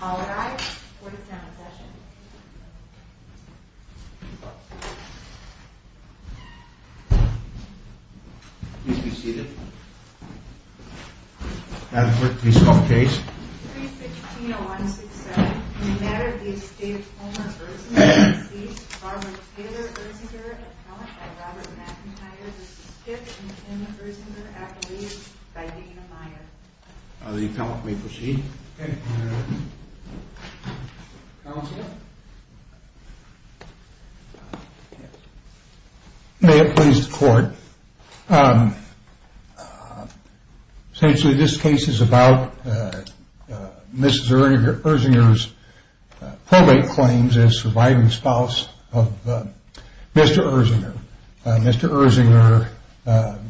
All rise for the demonstration. Please be seated. I have a brief piece of case. 3-16-0167. In the matter of the Estate of Homer Erzenger, deceased Barbara Taylor Erzenger, appellant by Robert McIntyre, the stiff and timid Erzenger, accolade by Dana Meyer. The appellant may proceed. May it please the court. Essentially this case is about Mrs. Erzenger's probate claims as surviving spouse of Mr. Erzenger. Mr. Erzenger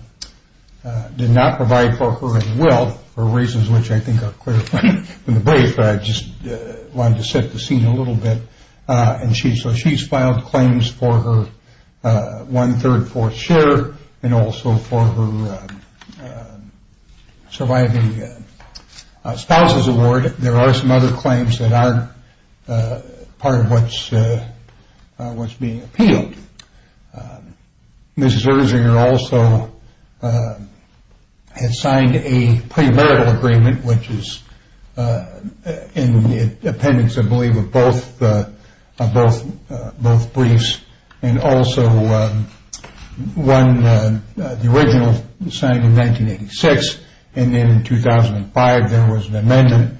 did not provide for her at will for reasons which I think are clear from the brief, but I just wanted to set the scene a little bit. So she's filed claims for her 1 3rd 4th share and also for her surviving spouse's award. There are some other claims that aren't part of what's being appealed. Mrs. Erzenger also has signed a pre-marital agreement, which is in the appendix, I believe, of both of both briefs and also won the original signed in 1986 and then in 2005 there was an amendment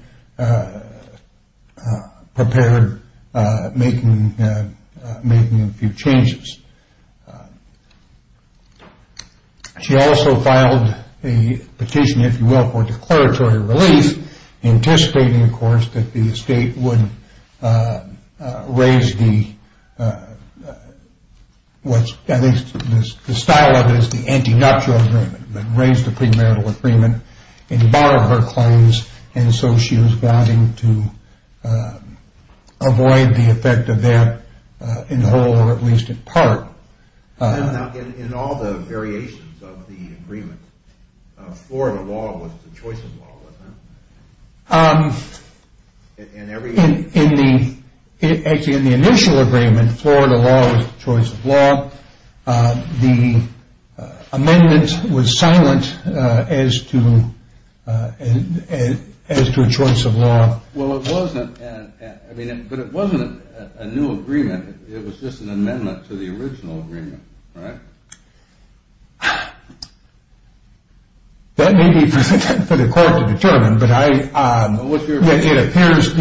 prepared making a few changes. She also filed a petition, if you will, for declaratory release anticipating, of course, that the estate would raise the I think the style of it is the anti-nuptial agreement, but raise the pre-marital agreement and borrow her claims and so she was vowing to avoid the effect of that in whole or at least in part. In all the variations of the agreement Florida law was the choice of law, wasn't it? In the in the initial agreement Florida law was the choice of law. The amendment was silent as to as to a choice of law. Well, it wasn't but it wasn't a new agreement it was just an amendment to the original agreement. Right? That may be for the court to determine but I it appears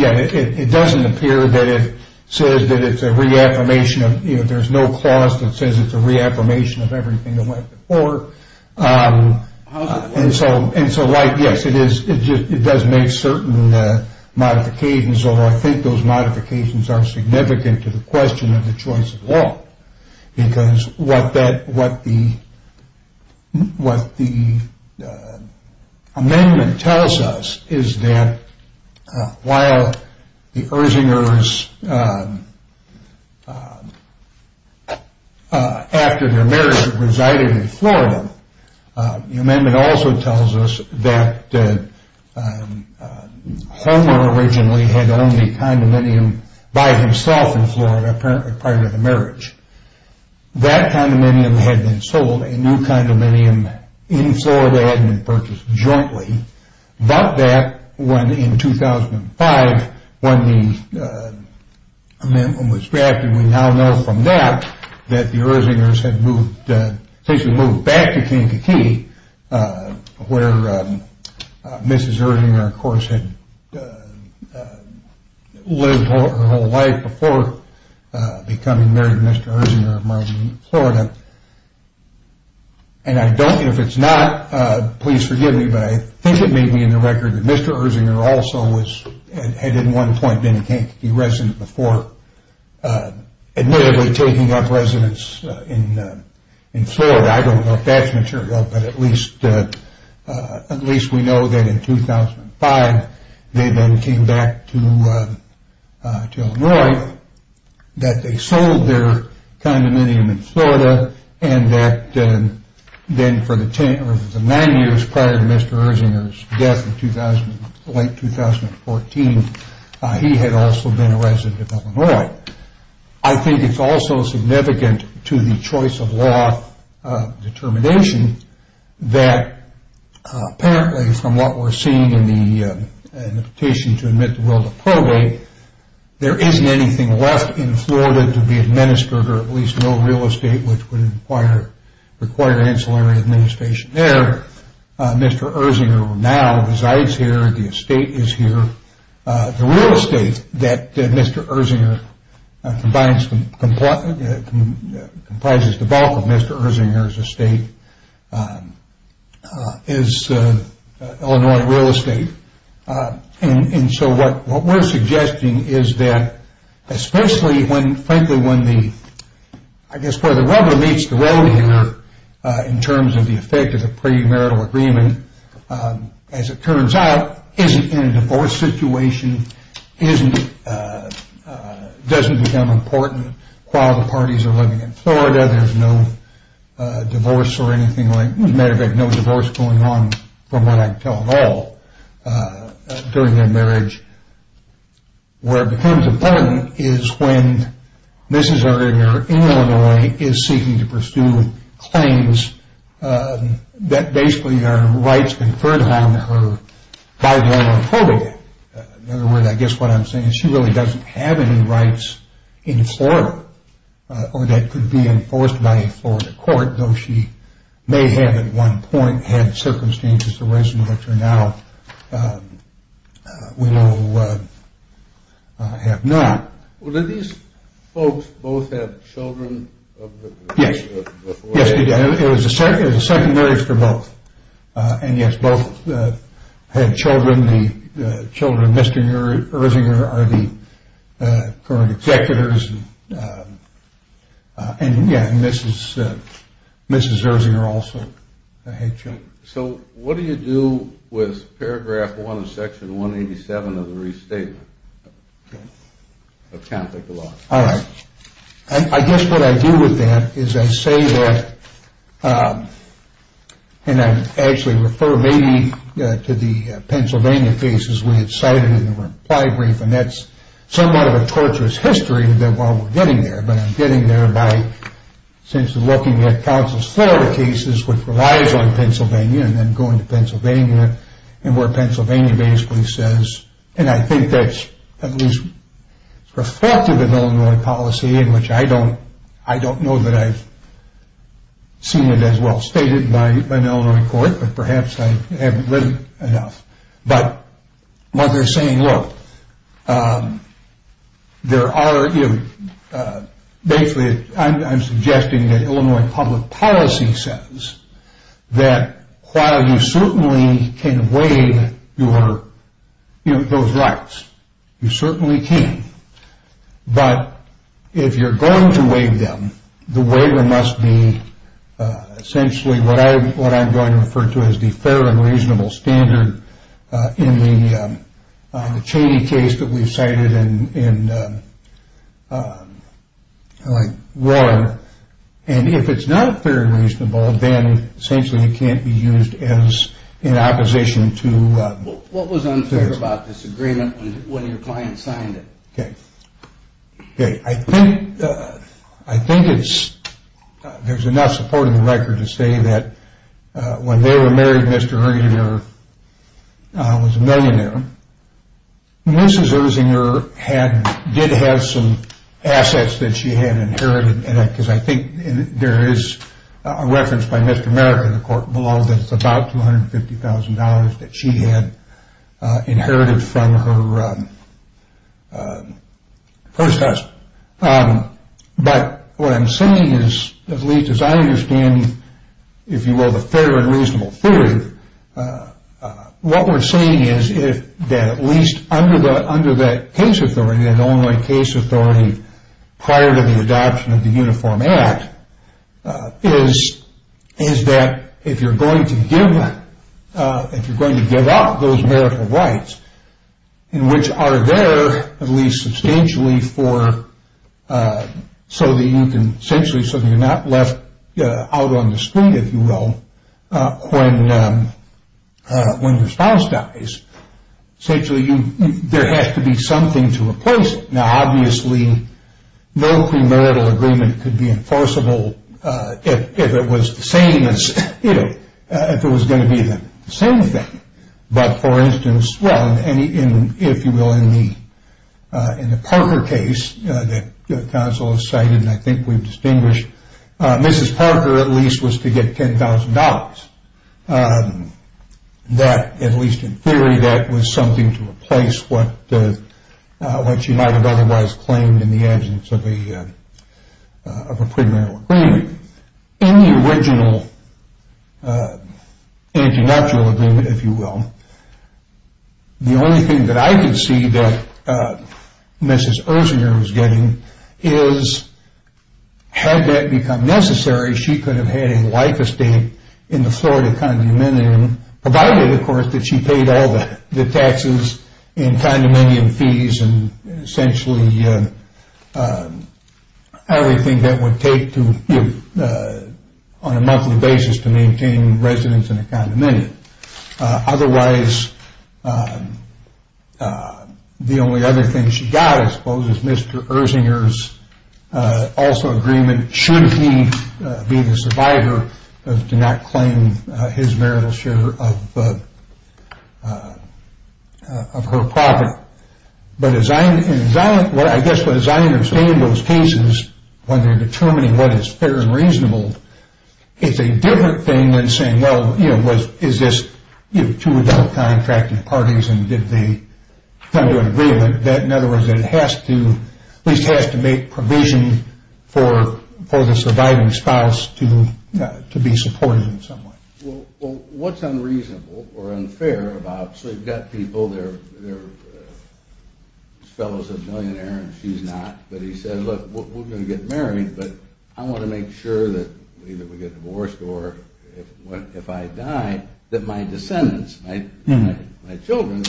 it doesn't appear that it says that it's a reaffirmation of there's no clause that says it's a reaffirmation of everything that went before and so like, yes, it is it does make certain modifications, although I think those modifications are significant to the question of the choice of law because what that what the what the amendment tells us is that while the Ersingers after their marriage resided in Florida the amendment also tells us that Homer originally had owned a condominium by himself in Florida prior to the marriage. That condominium had been sold a new condominium in Florida had been purchased jointly about that, when in 2005 when the amendment was drafted we now know from that that the Ersingers had moved moved back to Kankakee where Mrs. Ersinger of course had lived her whole life before becoming married to Mr. Ersinger in Florida and I don't know if it's not please forgive me, but I think it may be in the record that Mr. Ersinger also had at one point been a Kankakee resident before admittedly taking up residence in at least we know that in 2005 they then came back to Illinois that they sold their condominium in Florida and that then for the nine years prior to Mr. Ersinger's death in late 2014 he had also been a resident of Illinois I think it's also significant to the choice of law determination that apparently from what we're seeing in the petition to admit the will to probate, there isn't anything left in Florida to be administered or at least no real estate which would require ancillary administration there Mr. Ersinger now resides here, the estate is here the real estate that Mr. Ersinger comprises the bulk of Mr. Ersinger's estate is Illinois real estate and so what we're suggesting is that especially when frankly when the I guess where the rubber meets the road here in terms of the effect of the premarital agreement as it turns out isn't in a divorce situation isn't doesn't become important while the parties are living in Florida there's no divorce or anything like, as a matter of fact no divorce going on from what I can tell at all during their marriage where it becomes important is when Mrs. Ersinger in Illinois is seeking to pursue claims that basically are rights conferred on her by I guess what I'm saying is she really doesn't have any rights in Florida or that could be enforced by a Florida court though she may have at one point had circumstances arising which are now we will have not. Well did these folks both have children Yes it was a second marriage for both and yes both had children the children of Mr. Ersinger are the current executors and yeah Mrs. Ersinger also had children So what do you do with paragraph one of section 187 of the restatement of Catholic law Alright, I guess what I do with that is I say that and I actually refer maybe to the Pennsylvania cases we had cited in the reply brief and that's somewhat of a torturous history while we're getting there but I'm getting there by looking at Council's Florida cases which relies on Pennsylvania and then going to Pennsylvania and where Pennsylvania basically says and I think that's at least reflective of Illinois policy in which I don't know that I've seen it as well stated by but what they're saying look there are basically I'm suggesting that Illinois public policy says that while you certainly can waive those rights you certainly can but if you're going to waive them the waiver must be essentially what I'm going to refer to as the fair and reasonable standard in the Cheney case that we've cited in Roar and if it's not fair and reasonable then essentially it can't be used as in opposition to What was unfair about this agreement when your client signed it? I think I think it's there's enough support in the record to say that when they were married Mr. Erzinger was a millionaire Mrs. Erzinger did have some assets that she had inherited because I think there is a reference by Mr. Merrick in the court below that it's about $250,000 that she had inherited from her first husband but what I'm saying is at least as I understand if you will the fair and reasonable theory what we're saying is that at least under that case authority the only case authority prior to the adoption of the Uniform Act is that if you're going to give if you're going to give up those marital rights in which are there at least substantially for so that you can essentially so that you're not left out on the street if you will when when your spouse dies essentially you there has to be something to replace it now obviously no premarital agreement could be enforceable if it was the same as if it was going to be the same thing but for instance well if you will in the Parker case that counsel has cited and I think we've distinguished Mrs. Parker at least was to get $10,000 that at least in theory that was something to replace what what she might have otherwise claimed in the absence of a of a premarital agreement in the original antinatural agreement if you will the only thing that I can see that Mrs. Erzinger was getting is had that become necessary she could have had a life estate in the Florida condominium provided of course that she paid all the taxes in condominium fees and essentially everything that would take to on a monthly basis to maintain residence in a condominium otherwise the only other thing she got I suppose is Mr. Erzinger's also agreement should he be the survivor to not claim his marital share of of her property but as I understand in those cases when they're determining what is fair and reasonable it's a different thing than saying well is this two adult contracting parties and did they come to an agreement that in other words it has to at least has to make provision for the surviving spouse to be supported in some way what's unreasonable or unfair about so you've got people they're fellows of millionaires and she's not but he said look we're going to get married but I want to make sure that either we get divorced or if I die that my descendants, my children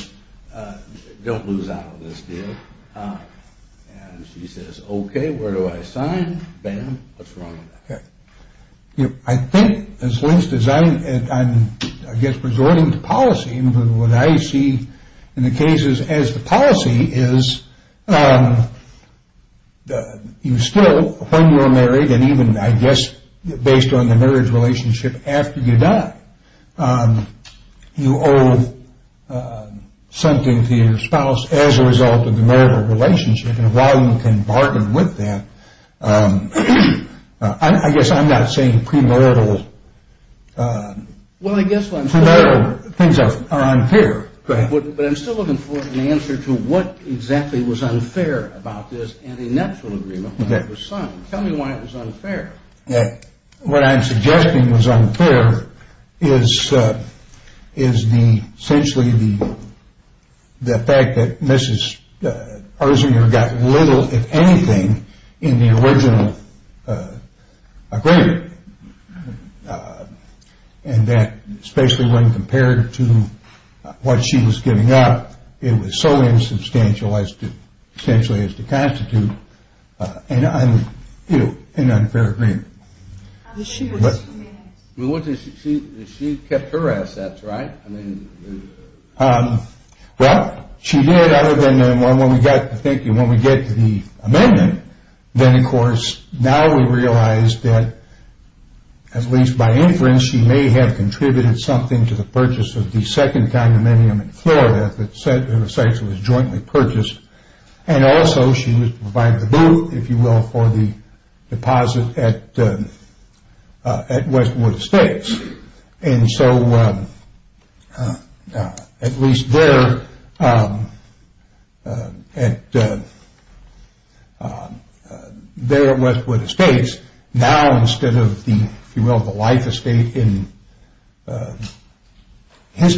don't lose out on this deal and she says okay where do I sign, bam, what's wrong with that I think as least as I'm I guess resorting to policy what I see in the cases as the policy is you still when you're unmarried and even I guess based on the marriage relationship after you die you owe something to your spouse as a result of the marital relationship and while you can bargain with that I guess I'm not saying premarital premarital things are unfair but I'm still looking for an answer to what exactly was unfair about this and a natural agreement tell me why it was unfair what I'm suggesting was unfair is is the essentially the fact that Mrs. Arzinger got little if anything in the original agreement and that especially when compared to what she was giving up it was so insubstantial as to essentially as to constitute an unfair agreement she kept her assets right well she did other than when we get to the amendment then of course now we realize that at least by inference she may have contributed something to the purchase of the second condominium in Florida that essentially was jointly purchased and also she was to provide the boot if you will for the deposit at at Westwood Estates and so at least there there at Westwood Estates now instead of the if you will the life estate in his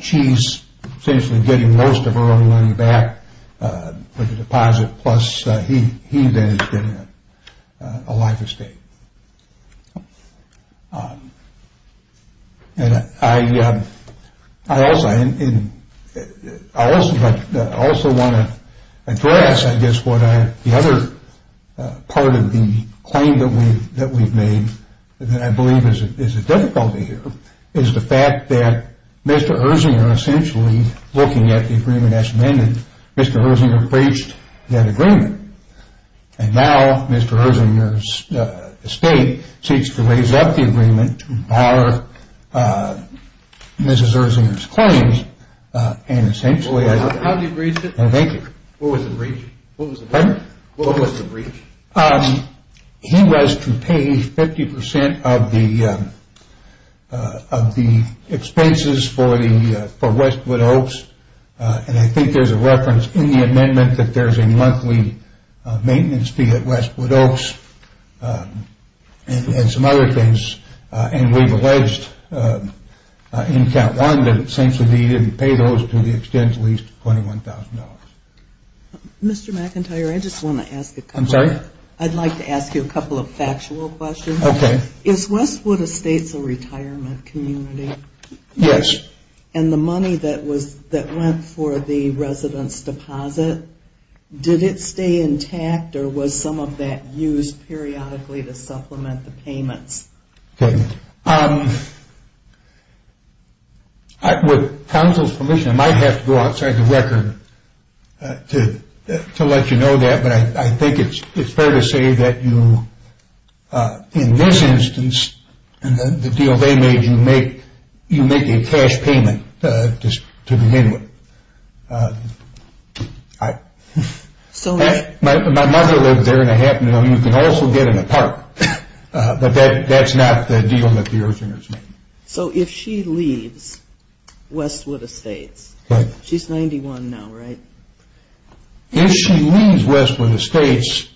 she's essentially getting most of her own money back for the deposit plus he then is getting a life estate I also I also want to address I guess what I the other part of the claim that we've made that I believe is a difficulty here is the fact that Mr. Erzinger essentially looking at the agreement as amended Mr. Erzinger breached that agreement and now Mr. Erzinger's estate seeks to raise up the agreement to empower Mrs. Erzinger's claims and essentially How did he breach it? What was the breach? He was to pay 50% of the of the expenses for Westwood Oaks and I think there's a reference in the amendment that there's a monthly maintenance fee at Westwood Oaks and some other things and we've alleged in count one that essentially he didn't pay those to the extent at least $21,000 Mr. McIntyre I just want to ask I'm sorry? I'd like to ask you a couple of factual questions Is Westwood Estates a retirement community? Yes And the money that went for the residence deposit did it stay intact or was some of that used periodically to supplement the payments? With counsel's permission I might have to go outside the record to let you know that but I think it's fair to say that you in this instance the deal they made you make you make a cash payment to begin with My mother lived there and it happened to them you can also get in a park but that's not the deal that the eartheners made So if she leaves Westwood Estates she's 91 now right? If she leaves Westwood Estates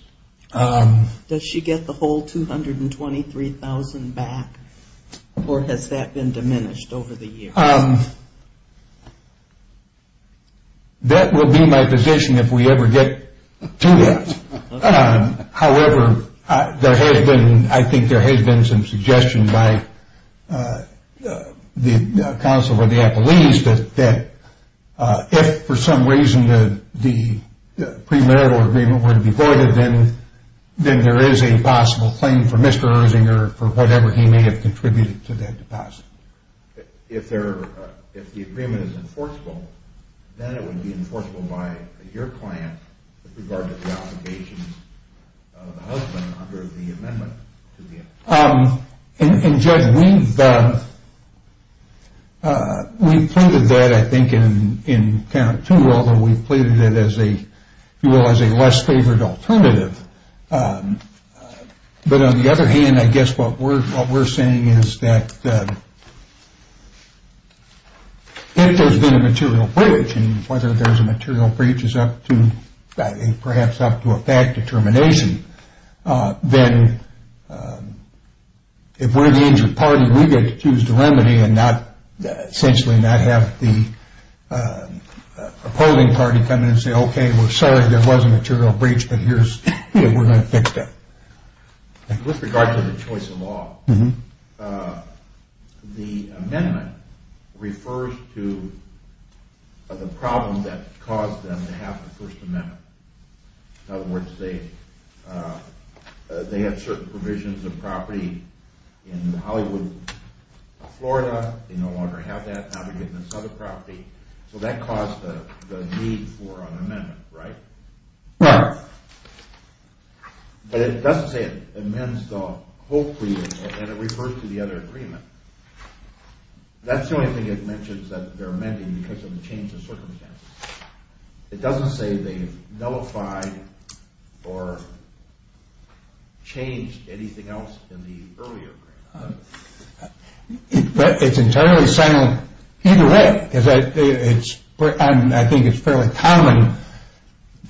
Does she get the whole $223,000 back? Or has that been diminished over the years? That will be my position if we ever get to that However there has been I think there has been some suggestion by the counsel or the appellees that if for some reason the premarital agreement were to be voided then there is a possible claim for Mr. Ersinger for whatever he may have contributed to that deposit If the agreement is enforceable then it would be enforceable by your client with regard to the obligation of the husband under the amendment And Judge we've included that I think in count two although we've pleaded it as a less favored alternative But on the other hand I guess what we're saying is that if there has been a material breach and whether there is a material breach is up to perhaps up to a fact determination then if we're an injured party we get to choose the remedy and not essentially not have the opposing party come in and say okay we're sorry there was a material breach but here's we're going to fix that With regard to the choice of law the amendment refers to the problem that caused them to have the first amendment In other words they had certain provisions of property in Hollywood Florida they no longer have that so that caused the need for an amendment Right? But it doesn't say it amends the whole plea and it refers to the other agreement That's the only thing it mentions that they're amending because of the change in circumstances It doesn't say they nullified or changed anything else in the earlier agreement It's entirely silent either way I think it's fairly common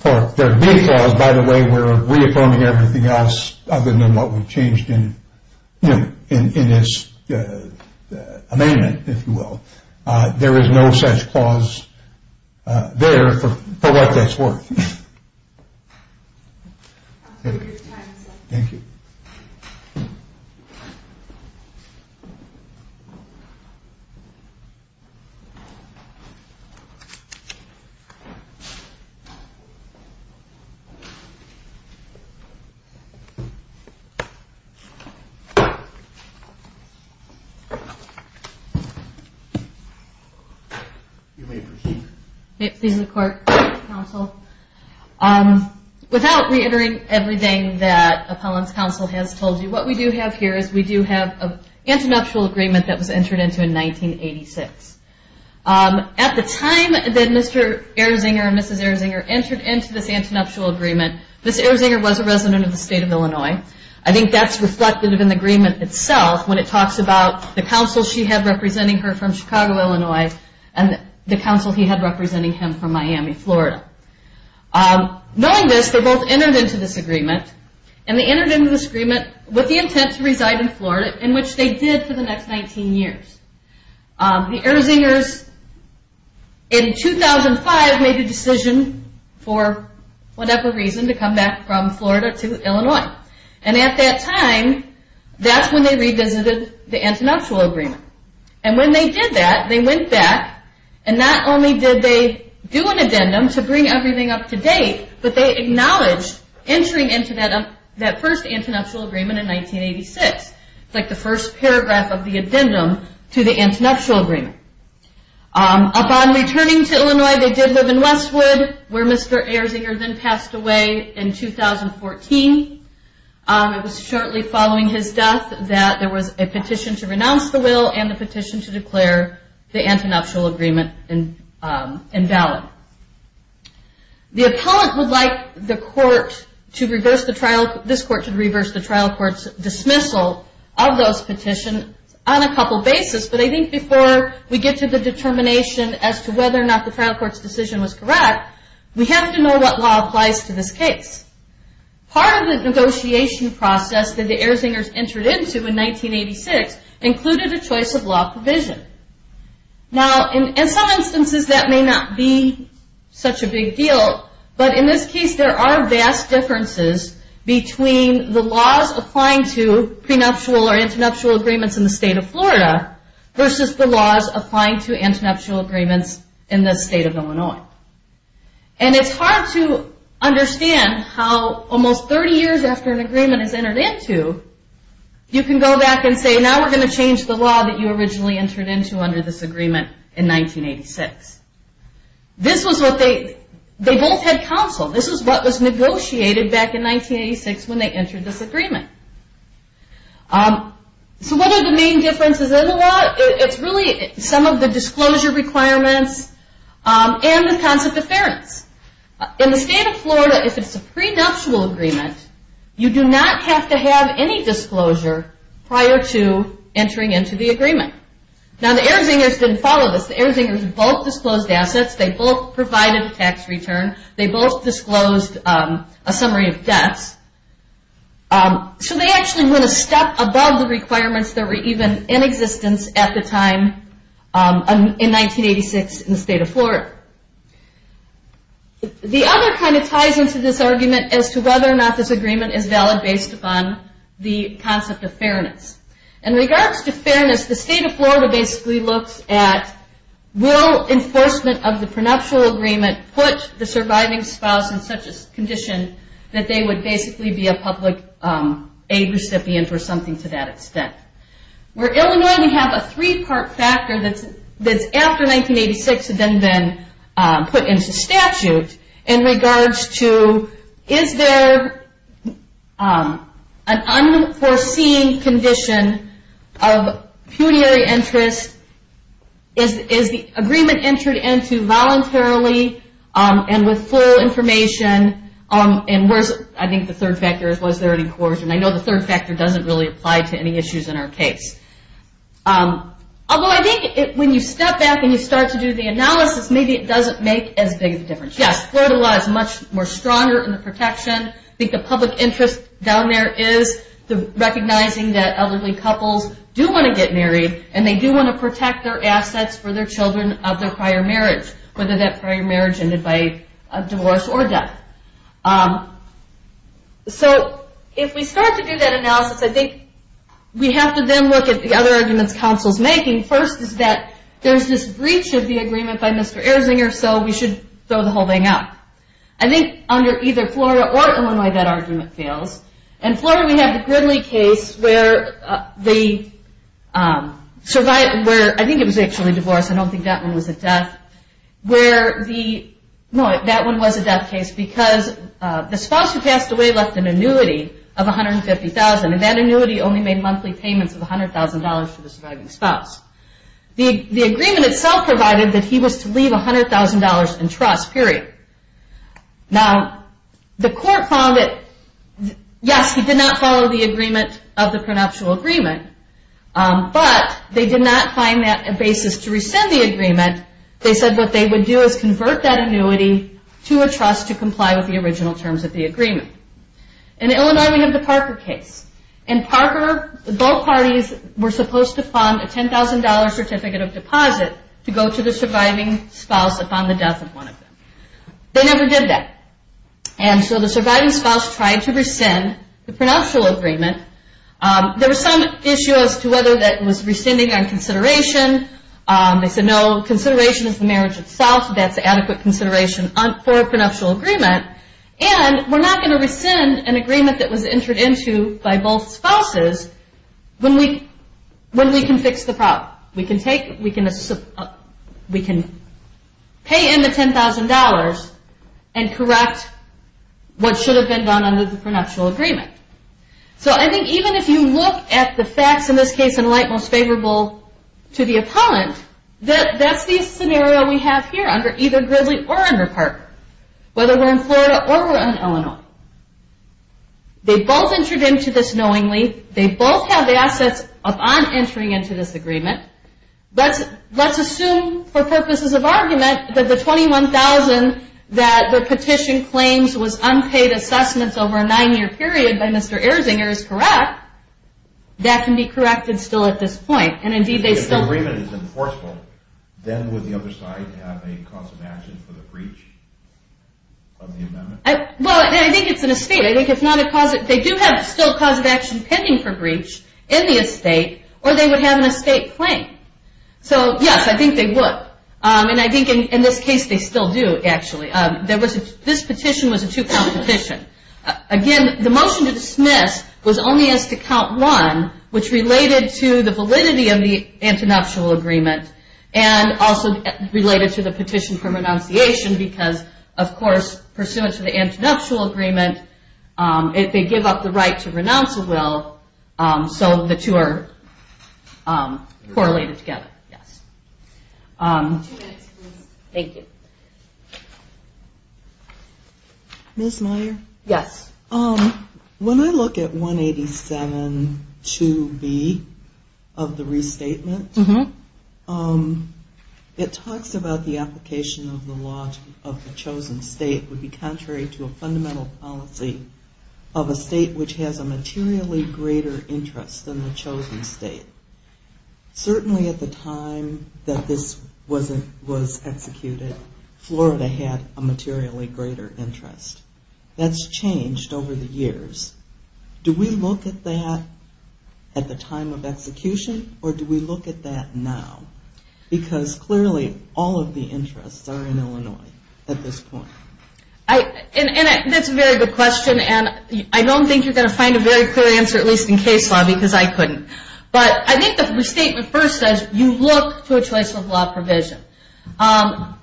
there'd be a clause by the way where reaffirming everything else other than what we've changed in in this amendment if you will there is no such clause there for what that's worth Thank you Thank you You may proceed May it please the court counsel Without reiterating everything that appellant's counsel has told you what we do have here is we do have an antinuptial agreement that was entered into in 1986 At the time that Mr. Erzinger and Mrs. Erzinger entered into this antinuptial agreement Mrs. Erzinger was a resident of the state of Illinois I think that's reflected in the agreement itself when it talks about the counsel she had representing her from Chicago, Illinois and the counsel he had representing him from Miami, Florida Knowing this, they both entered into this agreement and they entered into this agreement with the intent to reside in Florida, in which they did for the next 19 years The Erzingers in 2005 made the decision for whatever reason to come back from Florida to Illinois and at that time, that's when they revisited the antinuptial agreement and when they did that, they went back and not only did they do an addendum to bring everything up to date, but they acknowledged entering into that first antinuptial agreement in 1986 It's like the first paragraph of the addendum to the antinuptial agreement Upon returning to Illinois, they did live in Westwood, where Mr. Erzinger then passed away in 2014 It was shortly following his death that there was a petition to renounce the will and the petition to declare the antinuptial agreement invalid The appellant would like the court to reverse the trial this court to reverse the trial court's dismissal of those petitions on a couple bases, but I think before we get to the determination as to whether or not the trial court's decision was correct, we have to know what law applies to this case Part of the negotiation process that the Erzingers entered into in 1986 included a choice of law provision Now, in some instances, that may not be such a big deal, but in this case, there are vast differences between the laws applying to prenuptial or antinuptial agreements in the state of Florida, versus the laws applying to antinuptial agreements in the state of Illinois And it's hard to understand how almost 30 years after an agreement is and say, now we're going to change the law that you originally entered into under this agreement in 1986 This was what they they both had counsel, this was what was negotiated back in 1986 when they entered this agreement So what are the main differences in the law? It's really some of the disclosure requirements and the concept of fairness In the state of Florida, if it's a prenuptial agreement, you do not have to have any disclosure prior to entering into the agreement Now, the Erzingers didn't follow this. The Erzingers both disclosed assets they both provided a tax return they both disclosed a summary of debts So they actually went a step above the requirements that were even in existence at the time in 1986 in the state of Florida The other kind of ties into this argument as to whether or not this agreement is valid based upon the concept of fairness In regards to fairness, the state of Florida basically looks at will enforcement of the prenuptial agreement put the surviving spouse in such a condition that they would basically be a public aid recipient or something to that extent Where Illinois, we have a three part factor that's after 1986 had then been put into statute in regards to is there an unforeseen condition of punitary interest Is the agreement entered into voluntarily and with full information I think the third factor is was there any coercion. I know the third factor doesn't really apply to any issues in our case Although I think when you step back and you start to do the analysis, maybe it doesn't make as more stronger in the protection I think the public interest down there is recognizing that elderly couples do want to get married and they do want to protect their assets for their children of their prior marriage whether that prior marriage ended by divorce or death So if we start to do that analysis, I think we have to then look at the other arguments counsel's making First is that there's this breach of the agreement by Mr. Erzinger so we should throw the whole thing out I think under either Florida or Illinois that argument fails. In Florida we have the Gridley case where the survivor, I think it was actually divorce I don't think that one was a death where the that one was a death case because the spouse who passed away left an annuity of $150,000 and that annuity only made monthly payments of $100,000 to the surviving spouse The agreement itself provided that he was to leave $100,000 in trust period. Now the court found that yes, he did not follow the agreement of the prenuptial agreement but they did not find that a basis to rescind the agreement. They said what they would do is convert that annuity to a trust to comply with the original terms of the agreement. In Illinois we have the Parker case. In Parker both parties were supposed to fund a $10,000 certificate of deposit to go to the surviving spouse upon the death of one of them. They never did that. And so the surviving spouse tried to rescind the prenuptial agreement There was some issue as to whether that was rescinding on consideration. They said no consideration is the marriage itself that's adequate consideration for a prenuptial agreement and we're not going to rescind an agreement that was entered into by both spouses when we can fix the problem. We can pay in the $10,000 and correct what should have been done under the prenuptial agreement. So I think even if you look at the facts in this case in light most favorable to the opponent, that's the scenario we have here under either Gridley or under Parker. Whether we're in Florida or we're in Illinois. They both entered into this knowingly. They both have the assets upon entering into this agreement. Let's assume for purposes of argument that the $21,000 that the petition claims was unpaid assessments over a nine year period by Mr. Erzinger is correct that can be corrected still at this point. If the agreement is enforceable, then would the other side have a cause of action for the breach of the amendment? They do have still cause of action pending for breach in the estate or they would have an estate claim. I think they would. In this case they still do. This petition was a two count petition. The motion to dismiss was only as to count one which related to the validity of the prenuptial agreement and also related to the petition for renunciation because of course pursuant to the prenuptial agreement if they give up the right to renounce a will so the two are correlated together. Ms. Meyer? When I look at 187.2b of the restatement it talks about the application of the law of the chosen state would be contrary to a fundamental policy of a state which has a materially greater interest than the chosen state. Certainly at the time that this was executed, Florida had a materially greater interest. That's changed over the years. Do we look at that at the time of execution or do we look at that now? Because clearly all of the interests are in That's a very good question and I don't think you're going to find a very clear answer at least in case law because I couldn't. But I think the restatement first says you look to a choice of law provision. I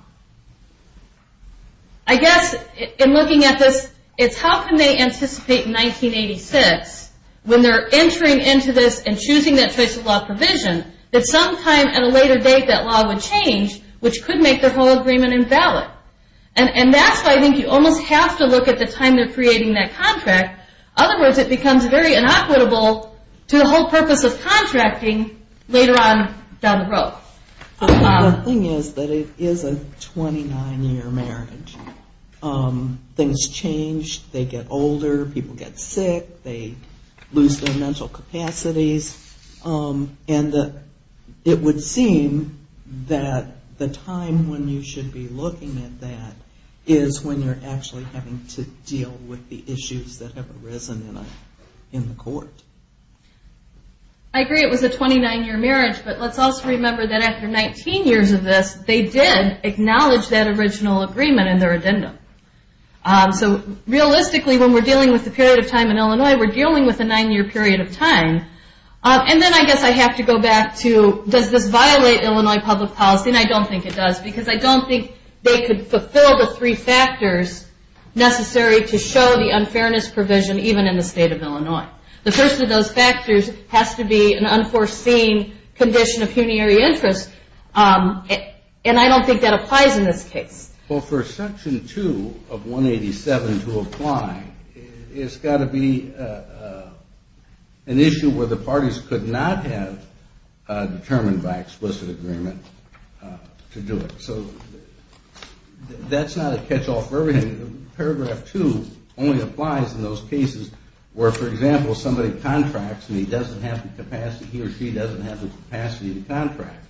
guess in looking at this, it's how can they anticipate in 1986 when they're entering into this and choosing that choice of law provision that sometime at a later date that law would change which could make their whole agreement invalid. And that's why I think you almost have to look at the time they're creating that contract. In other words it becomes very inequitable to the whole purpose of contracting later on down the road. The thing is that it is a 29 year marriage. Things change, they get older, people get sick, they lose their mental capacities and it would seem that the time when you should be looking at that is when you're actually having to deal with the issues that have arisen in the court. I agree it was a 29 year marriage but let's also remember that after 19 years of this, they did acknowledge that original agreement in their addendum. Realistically when we're dealing with the period of time in Illinois, we're dealing with a 9 year period of time. Then I guess I have to go back to does this violate Illinois public policy and I don't think it does because I don't think they could fulfill the three factors necessary to show the unfairness provision even in the state of Illinois. The first of those factors has to be an unforeseen condition of unitary interest and I don't think that applies in this case. For section 2 of 187 to apply, it's got to be an issue where the parties could not have determined by explicit agreement to do it. That's not a catch-all for everything. Paragraph 2 only applies in those cases where for example somebody contracts and he or she doesn't have the capacity to contract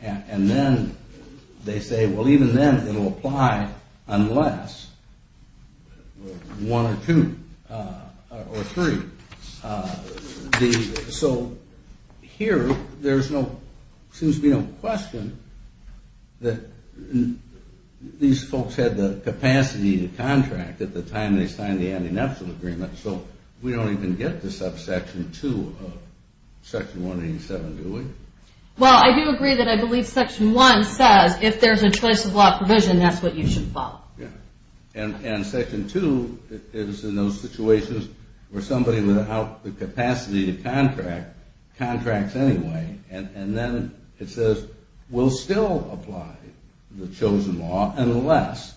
and then they say well even then it will apply unless one or two or three. So here there seems to be no question that these folks had the capacity to contract at the time they signed the anti-nepotism agreement so we don't even get to subsection 2 of section 187 do we? Well I do agree that I believe section 1 says if there's a choice of law provision that's what you should follow. And section 2 is in those situations where somebody without the capacity to contract contracts anyway and then it says we'll still apply the chosen law unless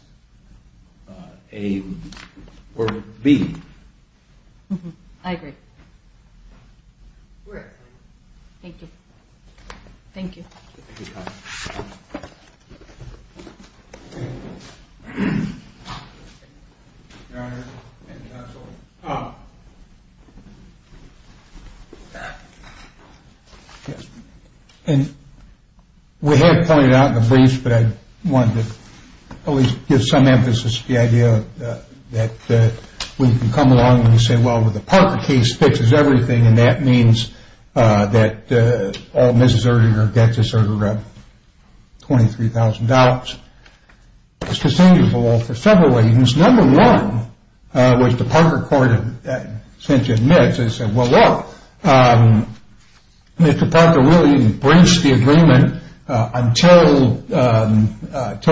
A or B. I agree. Thank you. Thank you. Thank you. And we have pointed out in the briefs that I wanted to at least give some emphasis to the idea that we can come along and say well the Parker case fixes everything and that means that all Mrs. Erdinger gets is sort of 23,000 dollars. It's the same for several reasons. Number one, which the Parker court essentially admits is well look Mr. Parker really breached the agreement until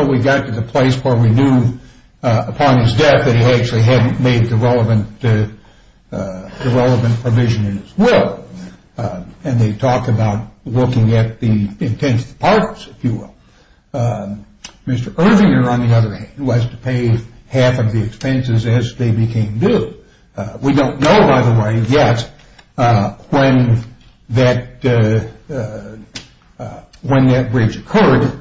we got to the place where we knew upon his death that he actually hadn't made the relevant provision in his will. And they talk about looking at the intense parts if you will. Mr. Erdinger on the other hand was to pay half of the expenses as they became due. We don't know by the way yet when that when that breach occurred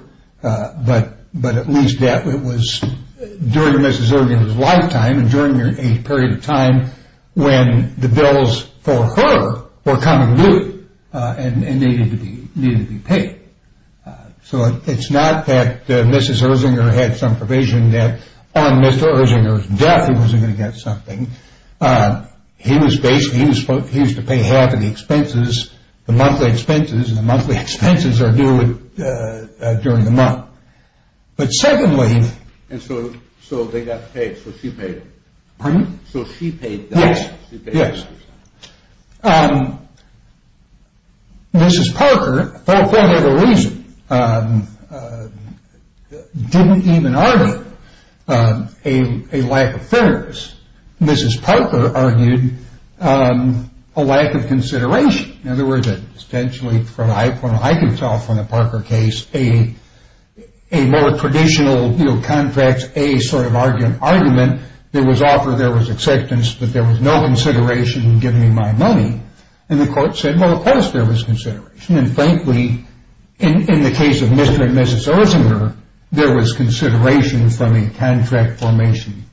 but at least that was during Mrs. Erdinger's lifetime and during a period of time when the bills for her were coming due and needed to be paid. So it's not that Mrs. Erdinger had some provision that on Mr. Erdinger's death he wasn't going to get something. He was basically he was to pay half of the expenses the monthly expenses and the monthly expenses are due during the month. But secondly And so they got paid, so she paid. Pardon me? Yes. Mrs. Parker for whatever reason didn't even argue a lack of fairness. Mrs. Parker argued a lack of consideration. In other words essentially from what I can tell from the Parker case a more traditional contract as a sort of argument there was offer, there was acceptance but there was no consideration in giving me my money. And the court said well of course there was consideration and frankly in the case of Mr. and Mrs. Erdinger there was consideration from a contract formation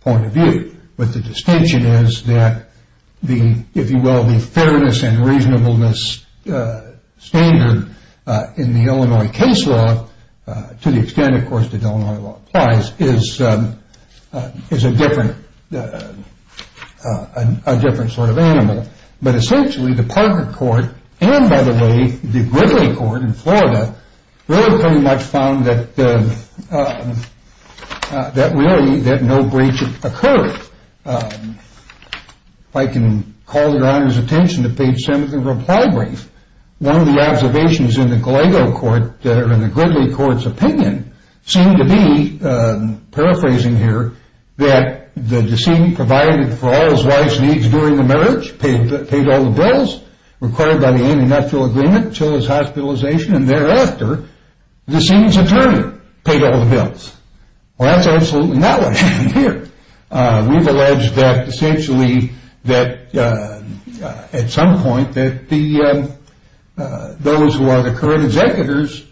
point of view. But the distinction is that the, if you will, the fairness and reasonableness standard in the Illinois case law to the extent of course the Illinois law applies is is a different a different sort of animal. But essentially the Parker court and by the way the Gridley court in Florida really pretty much found that that really that no breach occurred. If I can call your honors attention to page 7 of the reply brief one of the observations in the Gridley court's opinion seemed to be, paraphrasing here, that the decedent provided for all his wife's needs during the marriage, paid all the bills required by the anti-nuptial agreement until his hospitalization and thereafter the decedent's attorney paid all the bills. Well that's absolutely not what happened here. We've alleged that essentially that at some point that the those who are the current executors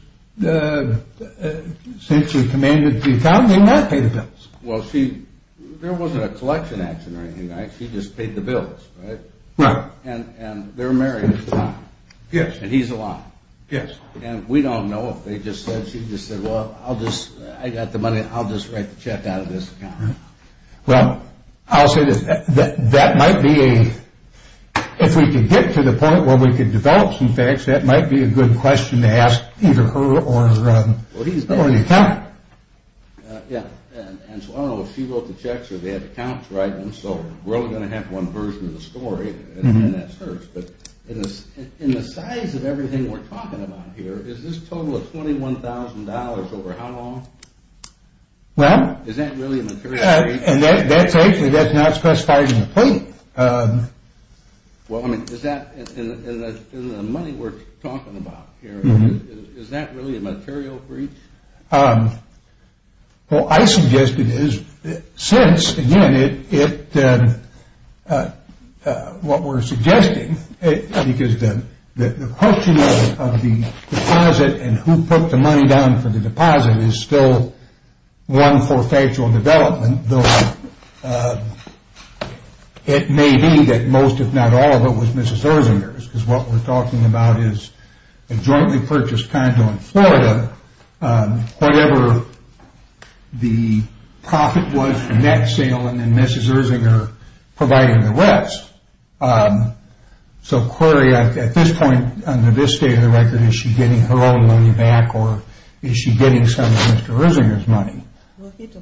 essentially commanded the account, they not pay the bills. Well she, there wasn't a collection action or anything like that, she just paid the bills. Right. And they're married. Yes. And he's alive. Yes. And we don't know if they just said, she just said, well I'll just, I got the money, I'll just write the check out of this account. Well, I'll say this, that might be a if we can get to the point where we can develop some facts, that might be a good question to ask either her or or the accountant. Yeah, and so I don't know if she wrote the checks or they have accounts so we're only going to have one version of the story, and then that's hers, but in the size of everything we're talking about here, is this total of $21,000 over how long? Well is that really a material thing? That's actually, that's not specified in the plate. Well, I mean, is that in the money we're talking about here, is that really a material breach? Well, I suggest it is, since again, it what we're suggesting, because the question of the deposit and who put the money down for the deposit is still one for factual development though it may be that most if not all of it was Mrs. Erzinger's, because what we're talking about is a jointly purchased condo in Florida whatever the profit was from that sale, and then Mrs. Erzinger providing the rest. So query at this point, under this state of the record, is she getting her own money back or is she getting some of Mr. Erzinger's money?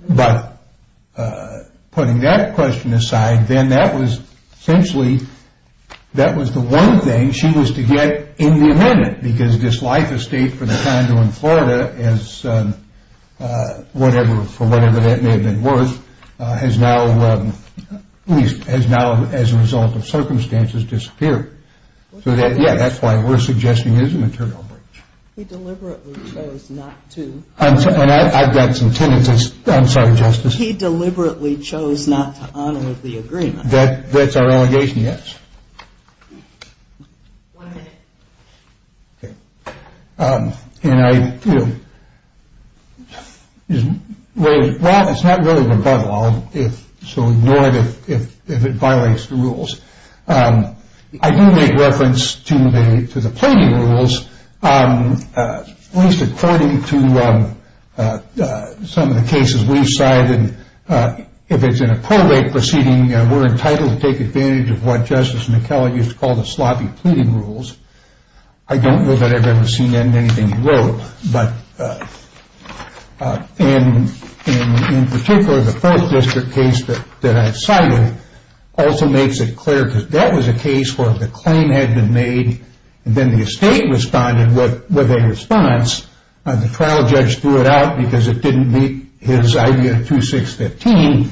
But putting that question aside then that was essentially that was the one thing she was to get in the amendment because this life estate for the condo in Florida is whatever, for whatever that may have been worth, has now at least, has now as a result of circumstances disappeared. So that, yeah, that's why we're suggesting it is a material breach. He deliberately chose not to. I've got some tendencies I'm sorry, Justice. He deliberately chose not to honor the agreement. That's our allegation, yes. One minute. And I you know well, it's not really an above all, so ignore it if it violates the rules. I do make reference to the planning rules at least according to some of the cases we've cited if it's in a pro rate proceeding, we're entitled to take advantage of what Justice McKellar used to call the sloppy pleading rules. I don't know that I've ever seen that in anything he wrote, but in particular, the first district case that I've cited also makes it clear because that was a case where the claim had been made and then the estate responded with a response and the trial judge threw it out because it didn't meet his idea of 2-6-15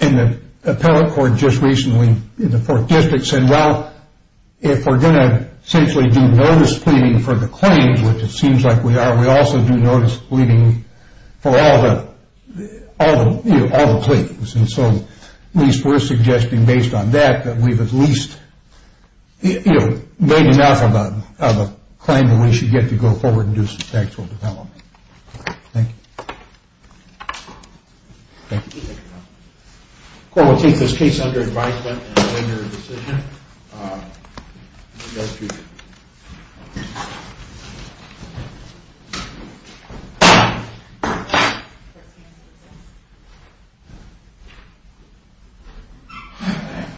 and the appellate court just recently in the fourth district said, well if we're going to essentially do notice pleading for the claims which it seems like we are, we also do notice pleading for all the all the, you know, all the pleads, and so at least we're suggesting based on that that we've at least you know, made enough of a claim that we should get to go forward and do some factual development. Thank you. Thank you. The court will take this case under advisement and render a decision in the next hearing.